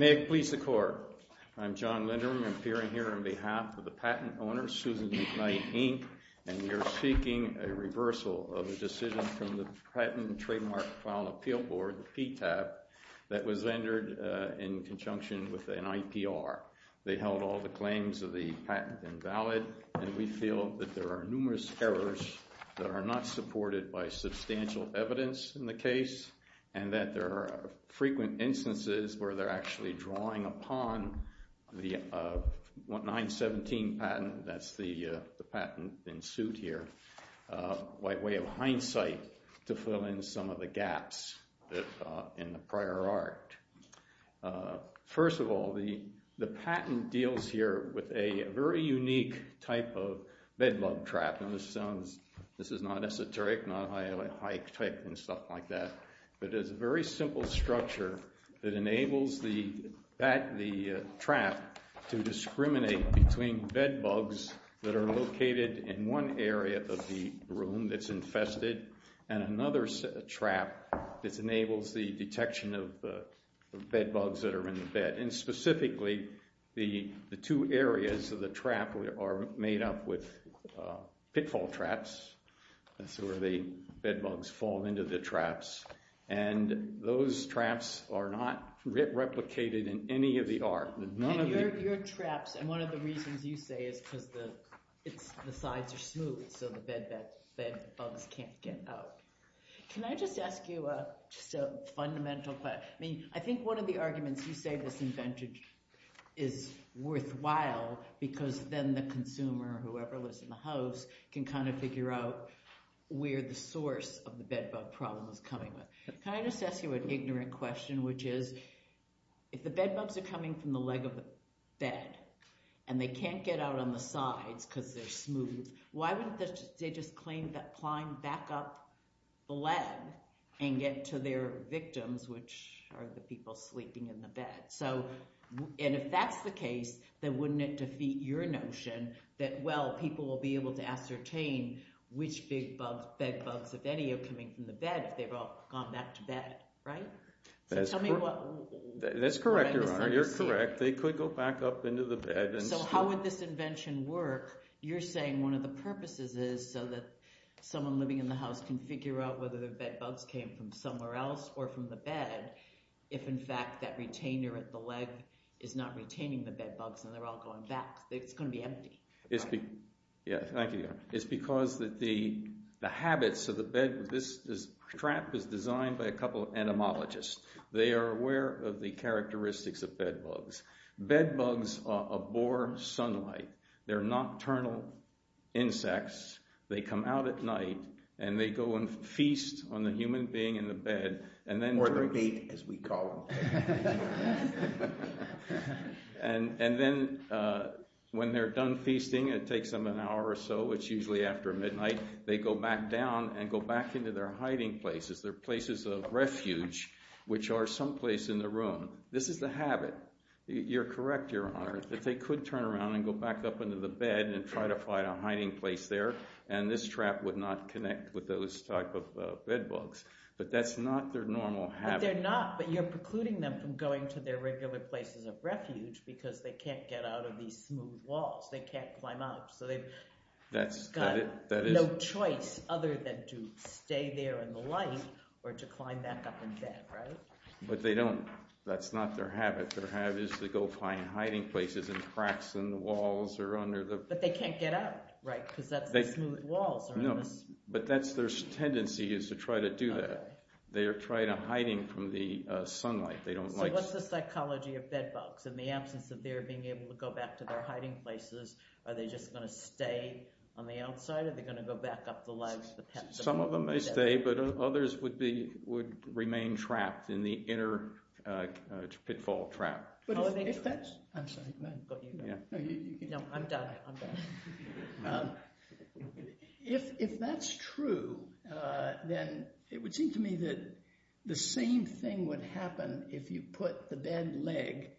May it please the Court, I'm John Lindrum, appearing here on behalf of the patent owner, Susan McKnight, Inc., and we are seeking a reversal of a decision from the Patent and in conjunction with an IPR. They held all the claims of the patent invalid, and we feel that there are numerous errors that are not supported by substantial evidence in the case, and that there are frequent instances where they're actually drawing upon the 917 patent, that's the patent in suit here, by way of hindsight, to fill in some of the gaps in the prior art. First of all, the patent deals here with a very unique type of bed bug trap, and this is not esoteric, not high tech and stuff like that, but it's a very simple structure that enables the trap to discriminate between bed bugs that are located in one area of the bed that's infested, and another trap that enables the detection of the bed bugs that are in the bed, and specifically, the two areas of the trap are made up with pitfall traps, that's where the bed bugs fall into the traps, and those traps are not replicated in any of the art. Your traps, and one of the reasons you say is because the sides are smooth, the bed bugs can't get out. Can I just ask you a fundamental question? I mean, I think one of the arguments you say this invented is worthwhile, because then the consumer, whoever lives in the house, can kind of figure out where the source of the bed bug problem is coming from. Can I just ask you an ignorant question, which is, if the bed bugs are coming from the leg of the bed, and they can't get out on the sides because they're smooth, why wouldn't they just claim that climb back up the leg and get to their victims, which are the people sleeping in the bed? So, and if that's the case, then wouldn't it defeat your notion that, well, people will be able to ascertain which big bed bugs, if any, are coming from the bed, if they've all gone back to bed, right? So tell me what I'm misunderstanding. That's correct, Your Honor, you're correct. They could go back up into the bed and... So how would this invention work? You're saying one of the purposes is so that someone living in the house can figure out whether the bed bugs came from somewhere else or from the bed, if, in fact, that retainer at the leg is not retaining the bed bugs and they're all going back, it's going to be empty, right? Yeah, thank you, Your Honor. It's because the habits of the bed, this trap is designed by a couple of entomologists. They are aware of the characteristics of bed bugs. Bed bugs abhor sunlight. They're nocturnal insects. They come out at night and they go and feast on the human being in the bed and then... Or the bait, as we call them. And then when they're done feasting, it takes them an hour or so, it's usually after midnight, they go back down and go back into their hiding places, their places of refuge, which are someplace in the room. This is the habit. You're correct, Your Honor, that they could turn around and go back up into the bed and try to find a hiding place there, and this trap would not connect with those type of bed bugs. But that's not their normal habit. But they're not, but you're precluding them from going to their regular places of refuge because they can't get out of these smooth walls. They can't climb up, so they've got no choice other than to stay there in the light or to climb back up in bed, right? But they don't, that's not their habit. Their habit is to go find hiding places and cracks in the walls or under the... But they can't get out, right, because that's the smooth walls. No, but that's their tendency, is to try to do that. They are trying to hide from the sunlight. They don't like... So what's the psychology of bed bugs? In the absence of their being able to go back to their hiding places, are they just going to stay on the outside or are they going to go back up the ledge? Some of them may stay, but others would remain trapped in the inner pitfall trap. If that's true, then it would seem to me that the same thing would happen if you put the bed leg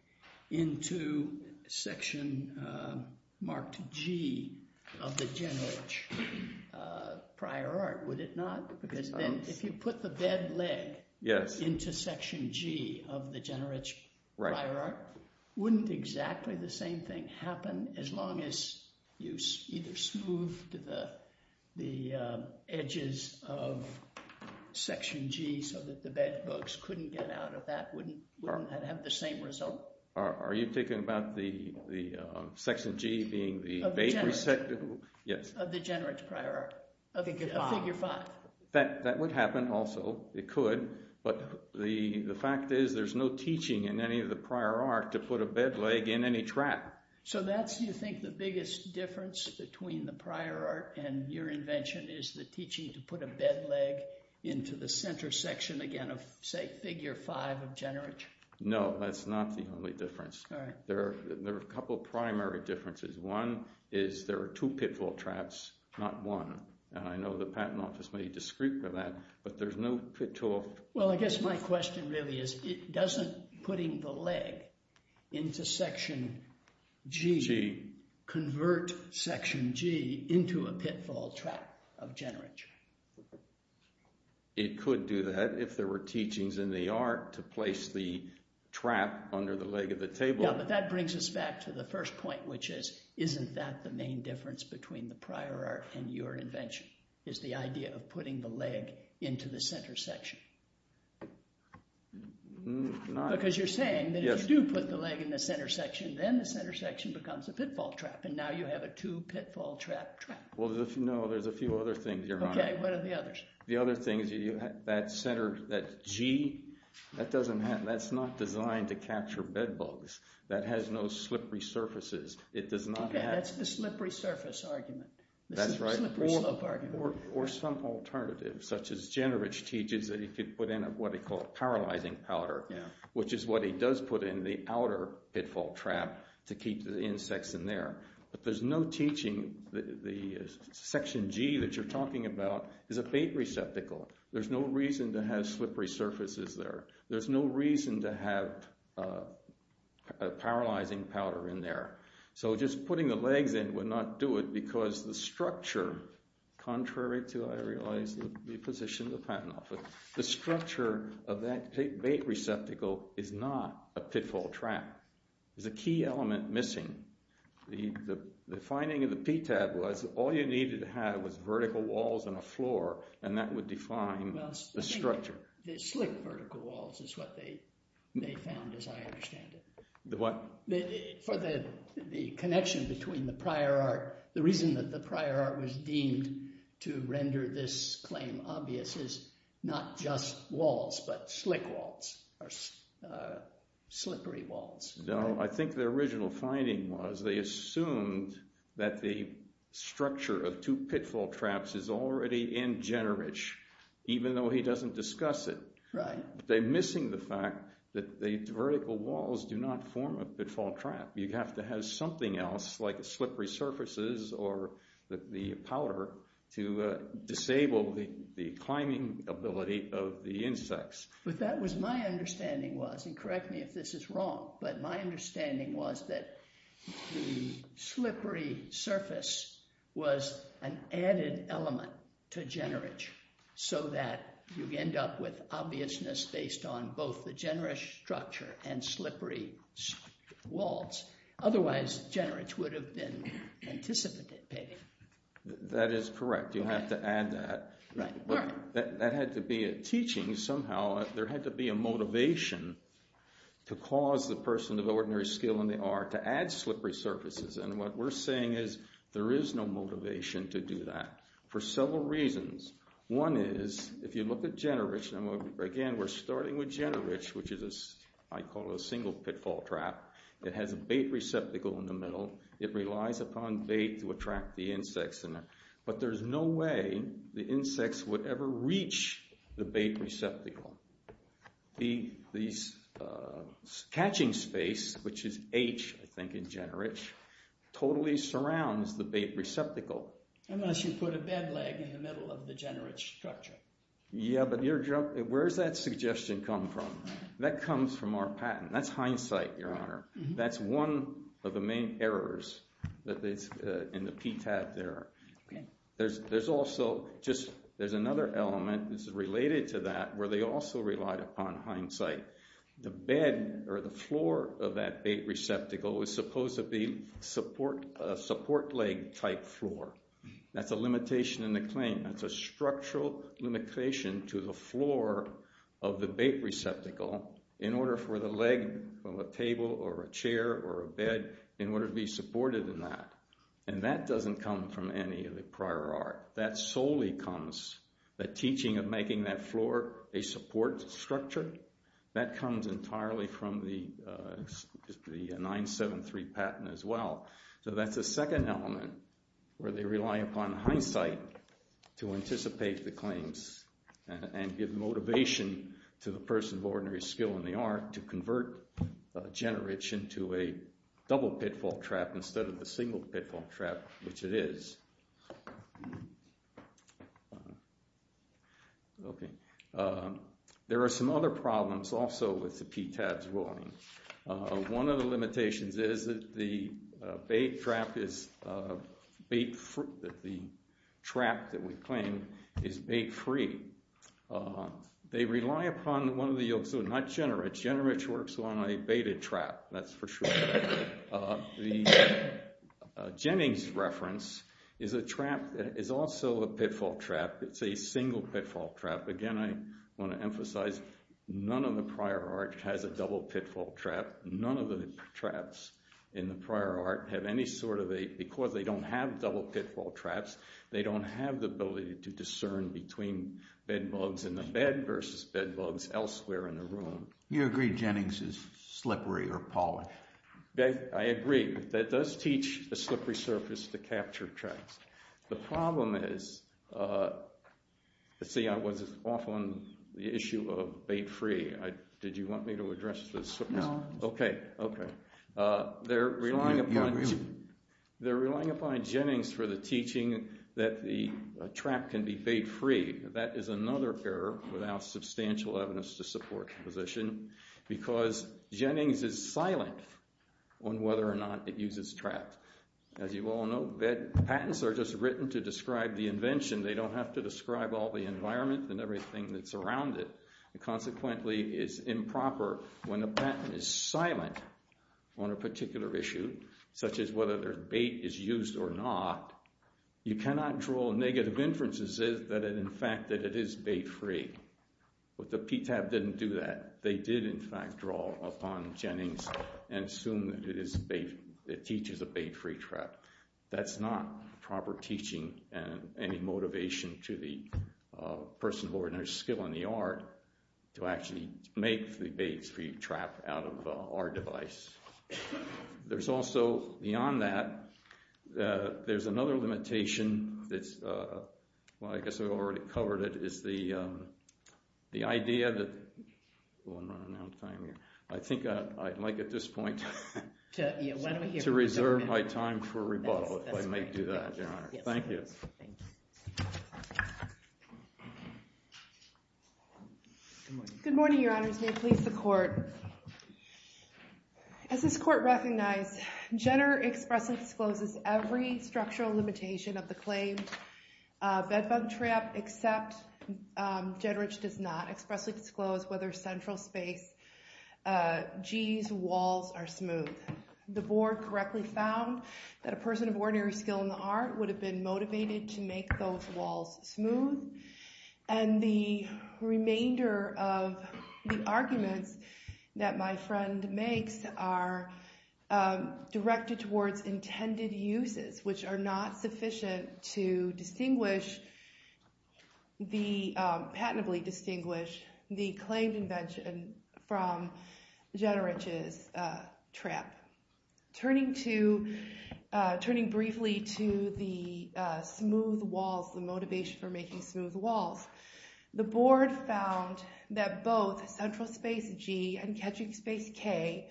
into Section G of the Generich Prior Art, would it not? Because if you put the bed leg into Section G of the Generich Prior Art, wouldn't exactly the same thing happen as long as you either smoothed the edges of Section G so that the bed bugs couldn't get out of that? Wouldn't that have the same result? Are you talking about Section G being the... Of the Generich Prior Art, of Figure 5. That would happen also, it could, but the fact is there's no teaching in any of the Prior Art to put a bed leg in any trap. So that's, you think, the biggest difference between the Prior Art and your invention, is the teaching to put a bed leg into the center section, again, of say, Figure 5 of Generich? No, that's not the only difference. There are a couple of primary differences. One is there are two pitfall traps, not one, and I know the Patent Office may be discreet by that, but there's no pitfall... Well, I guess my question really is, doesn't putting the leg into Section G convert Section G into a pitfall trap of Generich? It could do that if there were teachings in the art to place the trap under the leg of the table. Yeah, but that brings us back to the first point, which is, isn't that the main difference between the Prior Art and your invention, is the idea of putting the leg into the center section? Not... Because you're saying that if you do put the leg in the center section, then the center section becomes a pitfall trap, and now you have a two pitfall trap trap. Well, no, there's a few other things, Your Honor. Okay, what are the others? The other thing is that center, that G, that doesn't have, that's not designed to capture bed bugs. That has no slippery surfaces. It does not have... Okay, that's the slippery surface argument. That's right. The slippery slope argument. Or some alternative, such as Generich teaches that he could put in what he called paralyzing powder, which is what he does put in the outer pitfall trap to keep the insects in there. But there's no teaching, the section G that you're talking about is a bait receptacle. There's no reason to have slippery surfaces there. There's no reason to have paralyzing powder in there. So, just putting the legs in would not do it because the structure, contrary to, I realize, the position of the patent office, the structure of that bait receptacle is not a pitfall trap. There's a key element missing. The finding of the PTAB was all you needed to have was vertical walls and a floor and that would define the structure. Well, I think the slick vertical walls is what they found as I understand it. The what? For the connection between the prior art, the reason that the prior art was deemed to No, I think the original finding was they assumed that the structure of two pitfall traps is already in Generich, even though he doesn't discuss it. Right. They're missing the fact that the vertical walls do not form a pitfall trap. You have to have something else like slippery surfaces or the powder to disable the climbing ability of the insects. But that was my understanding was, and correct me if this is wrong, but my understanding was that the slippery surface was an added element to Generich so that you end up with obviousness based on both the Generich structure and slippery walls. Otherwise, Generich would have been anticipated. That is correct. You have to add that. Right. But there had to be a motivation to cause the person of ordinary skill in the art to add slippery surfaces. And what we're saying is there is no motivation to do that for several reasons. One is, if you look at Generich, and again, we're starting with Generich, which I call a single pitfall trap. It has a bait receptacle in the middle. It relies upon bait to attract the insects in it. But there's no way the insects would ever reach the bait receptacle. The catching space, which is H, I think, in Generich, totally surrounds the bait receptacle. Unless you put a bed leg in the middle of the Generich structure. Yeah, but where does that suggestion come from? That comes from our patent. That's hindsight, Your Honor. That's one of the main errors in the PTAB there. There's another element that's related to that where they also relied upon hindsight. The bed or the floor of that bait receptacle was supposed to be a support leg type floor. That's a limitation in the claim. That's a structural limitation to the floor of the bait receptacle in order for the leg or the table or a chair or a bed in order to be supported in that. That doesn't come from any of the prior art. That solely comes, the teaching of making that floor a support structure, that comes entirely from the 973 patent as well. That's a second element where they rely upon hindsight to anticipate the claims and give motivation to the person of ordinary skill in the art to convert Generich into a double pitfall trap instead of a single pitfall trap, which it is. There are some other problems also with the PTAB's ruling. One of the limitations is that the trap that we claim is bait-free. They rely upon one of the yolks, not Generich. Generich works on a baited trap, that's for sure. The Jennings reference is a trap that is also a pitfall trap. It's a single pitfall trap. Again, I want to emphasize, none of the prior art has a double pitfall trap. None of the traps in the prior art have any sort of a, because they don't have double pitfall traps, they don't have the ability to discern between bed bugs in the bed versus bed bugs elsewhere in the room. You agree Jennings is slippery or polished. I agree. That does teach a slippery surface to capture traps. The problem is, let's see, I was off on the issue of bait-free. Did you want me to address this? No. Okay, okay. They're relying upon Jennings for the teaching that the trap can be bait-free. That is another error without substantial evidence to support the position because Jennings is silent on whether or not it uses traps. As you all know, patents are just written to describe the invention. They don't have to describe all the environment and everything that's around it. It consequently is improper when a patent is silent on a particular issue, such as whether bait is used or not. You cannot draw negative inferences that in fact it is bait-free. But the PTAB didn't do that. They did, in fact, draw upon Jennings and assume that it teaches a bait-free trap. That's not proper teaching and any motivation to the person who ordered their skill in the art to actually make the bait-free trap out of our device. There's also, beyond that, there's another limitation that's, well, I guess I've already covered it, is the idea that, oh, I'm running out of time here, I think I'd like at this point to reserve my time for rebuttal if I may do that, Your Honor. Thank you. Good morning, Your Honors. May it please the Court. As this Court recognized, Jenner expressly discloses every structural limitation of the claimed bed bug trap, except Jenner does not expressly disclose whether central space G's walls are smooth. The Board correctly found that a person of ordinary skill in the art would have been motivated to make those walls smooth, and the remainder of the arguments that my friend makes are directed towards intended uses, which are not sufficient to patently distinguish the claimed invention from Jennerich's trap. Turning briefly to the smooth walls, the motivation for making smooth walls, the Board found that both central space G and Ketchick space K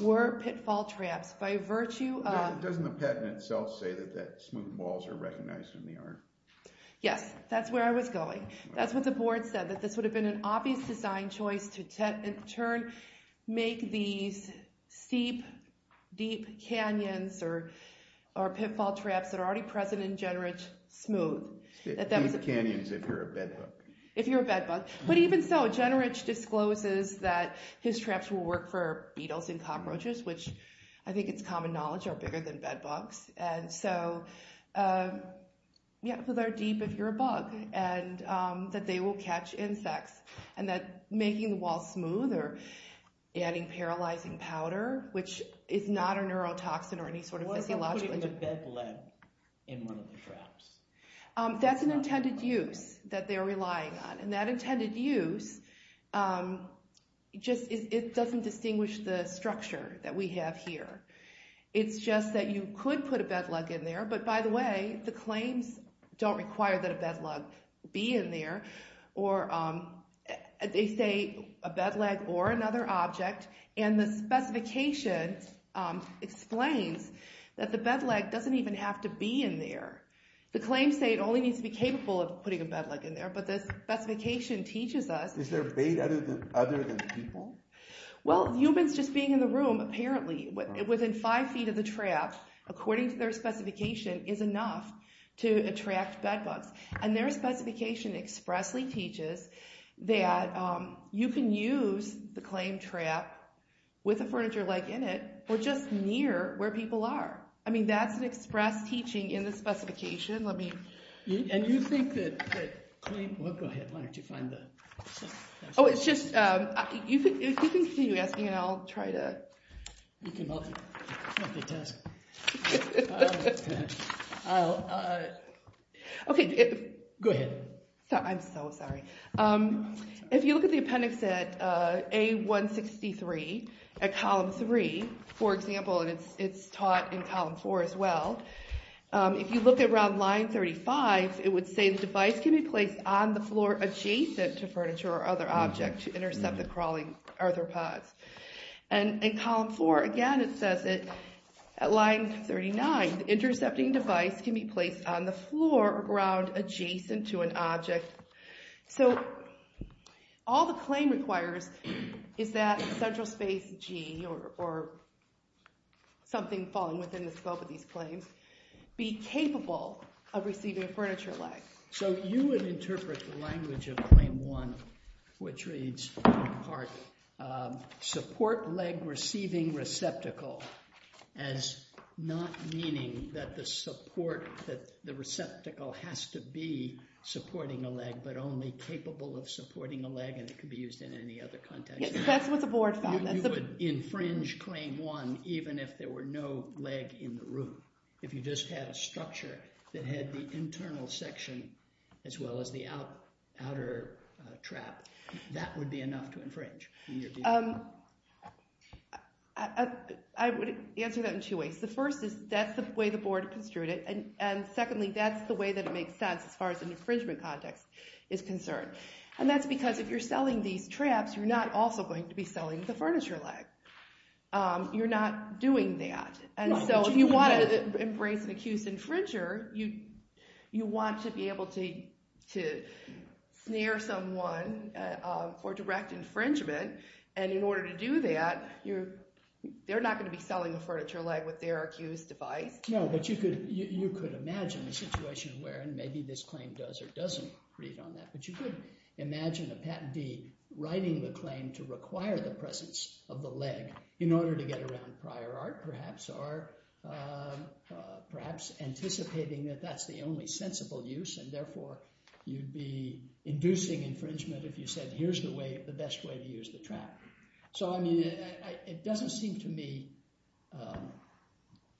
were pitfall traps by virtue of... Doesn't the patent itself say that smooth walls are recognized in the art? Yes, that's where I was going. That's what the Board said, that this would have been an obvious design choice to in turn make these steep, deep canyons or pitfall traps that are already present in Jennerich smooth. Deep canyons if you're a bed bug. If you're a bed bug. But even so, Jennerich discloses that his traps will work for beetles and cockroaches, which I think it's common knowledge are bigger than bed bugs, and so they're deep if you're a bug, and that they will catch insects, and that making the walls smooth or adding paralyzing powder, which is not a neurotoxin or any sort of physiological... What if I'm putting a bed leg in one of the traps? That's an intended use that they're relying on, and that intended use just doesn't distinguish the structure that we have here. It's just that you could put a bed leg in there, but by the way, the claims don't require that a bed leg be in there, or they say a bed leg or another object, and the specification explains that the bed leg doesn't even have to be in there. The claims say it only needs to be capable of putting a bed leg in there, but the specification teaches us... Is there bait other than people? Well, humans just being in the room, apparently, within five feet of the trap, according to their specification, is enough to attract bed bugs, and their specification expressly teaches that you can use the claim trap with a furniture leg in it, or just near where people are. I mean, that's an express teaching in the specification. And you think that... Well, go ahead. Why don't you find the... Oh, it's just... You can continue asking, and I'll try to... You can help me. Okay. Go ahead. I'm so sorry. If you look at the appendix at A163, at column 3, for example, and it's taught in column 4 as well, if you look around line 35, it would say the device can be placed on the floor adjacent to furniture or other objects to intercept the crawling arthropods. And in column 4, again, it says that at line 39, the intercepting device can be placed on the floor or ground adjacent to an object. So all the claim requires is that central space G, or something falling within the scope of these claims, be capable of receiving a furniture leg. So you would interpret the language of Claim 1, which reads, in part, support leg receiving receptacle as not meaning that the support, that the receptacle has to be supporting a leg, but only capable of supporting a leg, and it could be used in any other context. Yes, that's what the board found. You would infringe Claim 1 even if there were no leg in the room. If you just had a structure that had the internal section as well as the outer trap, that would be enough to infringe. I would answer that in two ways. The first is that's the way the board construed it, and secondly, that's the way that it makes sense as far as an infringement context is concerned. And that's because if you're selling these traps, you're not also going to be selling the furniture leg. You're not doing that. And so if you want to embrace an accused infringer, you want to be able to snare someone for direct infringement. And in order to do that, they're not going to be selling the furniture leg with their accused device. No, but you could imagine a situation where, and maybe this claim does or doesn't read on that, but you could imagine a Patent D writing the claim to require the presence of the leg in order to get around prior art, perhaps, or perhaps anticipating that that's the only sensible use, and therefore you'd be inducing infringement if you said, here's the best way to use the trap. So, I mean, it doesn't seem to me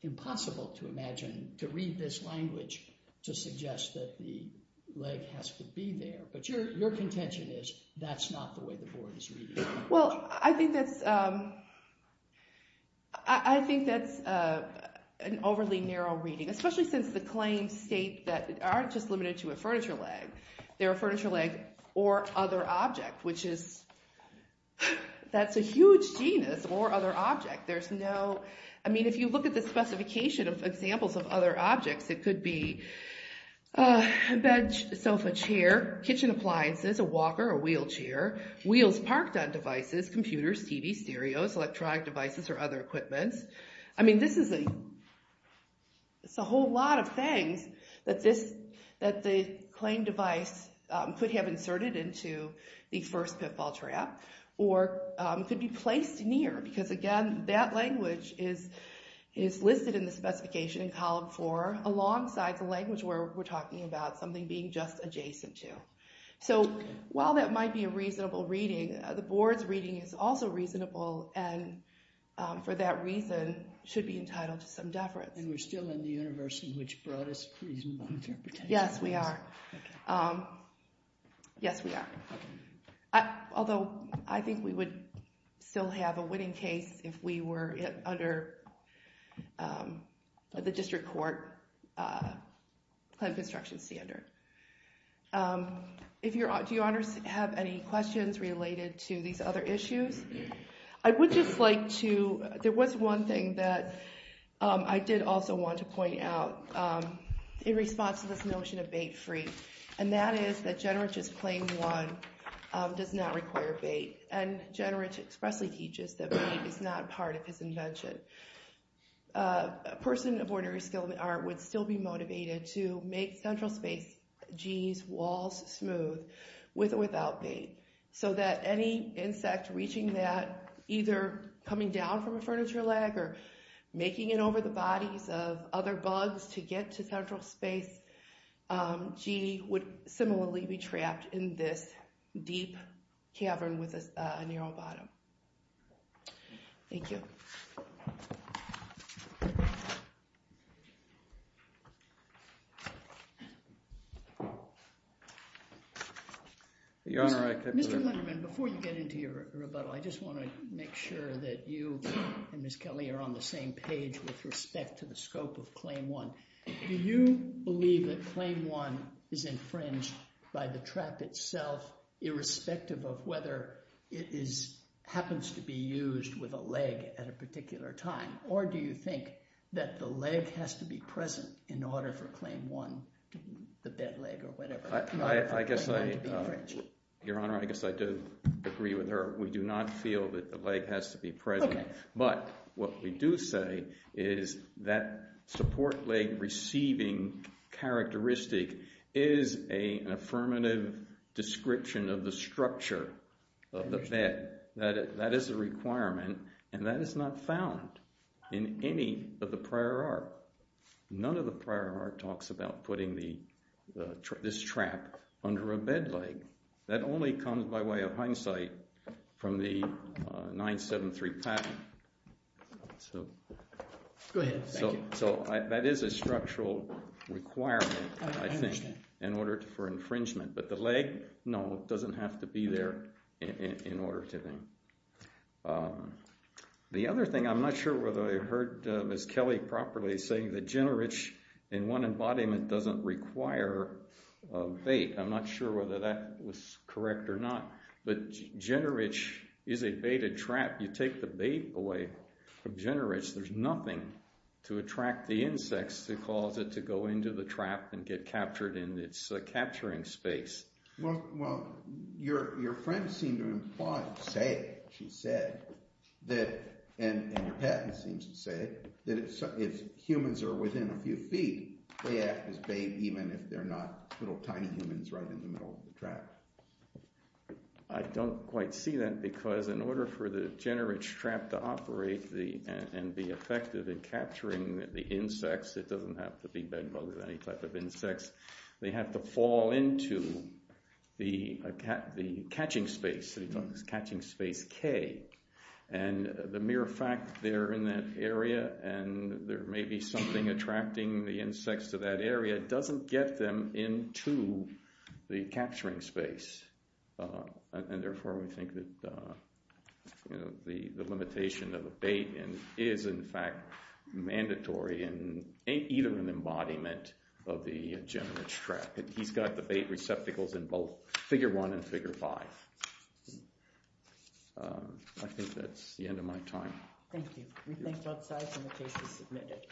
impossible to imagine, to read this language to suggest that the leg has to be there. But your contention is that's not the way the board is reading the language. Well, I think that's an overly narrow reading, especially since the claims state that aren't just limited to a furniture leg. They're a furniture leg or other object, which is, that's a huge genus, or other object. There's no, I mean, if you look at the specification of examples of other objects, it could be a bed, sofa, chair, kitchen appliances, a walker, a wheelchair, wheels parked on devices, computers, TV, stereos, electronic devices, or other equipments. I mean, this is a whole lot of things that the claim device could have inserted into the first pitfall trap, or could be placed near, because, again, that language is listed in the specification in column four, alongside the language where we're talking about something being just adjacent to. So while that might be a reasonable reading, the board's reading is also reasonable, and for that reason, should be entitled to some deference. And we're still in the universe in which brought us reasonable interpretation. Yes, we are. Yes, we are. Although, I think we would still have a winning case if we were under the district court plan construction standard. Do your honors have any questions related to these other issues? I would just like to, there was one thing that I did also want to point out in response to this notion of bait-free. And that is that Generich's claim one does not require bait. And Generich expressly teaches that bait is not part of his invention. A person of ordinary skill in art would still be motivated to make central space G's walls smooth with or without bait. So that any insect reaching that, either coming down from a furniture leg or making it over the bodies of other bugs to get to central space G, would similarly be trapped in this deep cavern with a narrow bottom. Thank you. Mr. Lunderman, before you get into your rebuttal, I just want to make sure that you and Ms. Kelly are on the same page with respect to the scope of claim one. Do you believe that claim one is infringed by the trap itself irrespective of whether it happens to be used with a leg at a particular time? Or do you think that the leg has to be present in order for claim one, the bed leg or whatever, in order for claim one to be infringed? Your Honor, I guess I do agree with her. We do not feel that the leg has to be present. But what we do say is that support leg receiving characteristic is an affirmative description of the structure of the bed. That is a requirement, and that is not found in any of the prior art. None of the prior art talks about putting this trap under a bed leg. That only comes by way of hindsight from the 973 patent. Go ahead. Thank you. It's a structural requirement, I think, in order for infringement. But the leg, no, it doesn't have to be there in order to be. The other thing, I'm not sure whether I heard Ms. Kelly properly saying that generich in one embodiment doesn't require a bait. I'm not sure whether that was correct or not. But generich is a baited trap. You take the bait away from generich. There's nothing to attract the insects to cause it to go into the trap and get captured in its capturing space. Well, your friend seemed to imply, she said, and your patent seems to say, that if humans are within a few feet, they act as bait even if they're not little tiny humans right in the middle of the trap. I don't quite see that because in order for the generich trap to operate and be effective in capturing the insects, it doesn't have to be bed bugs or any type of insects, they have to fall into the catching space, the catching space K. And the mere fact they're in that area and there may be something attracting the insects to that area doesn't get them into the capturing space. And therefore we think that the limitation of the bait is in fact mandatory in either an embodiment of the generich trap. He's got the bait receptacles in both figure one and figure five. I think that's the end of my time. Thank you. We thank both sides and the case is submitted.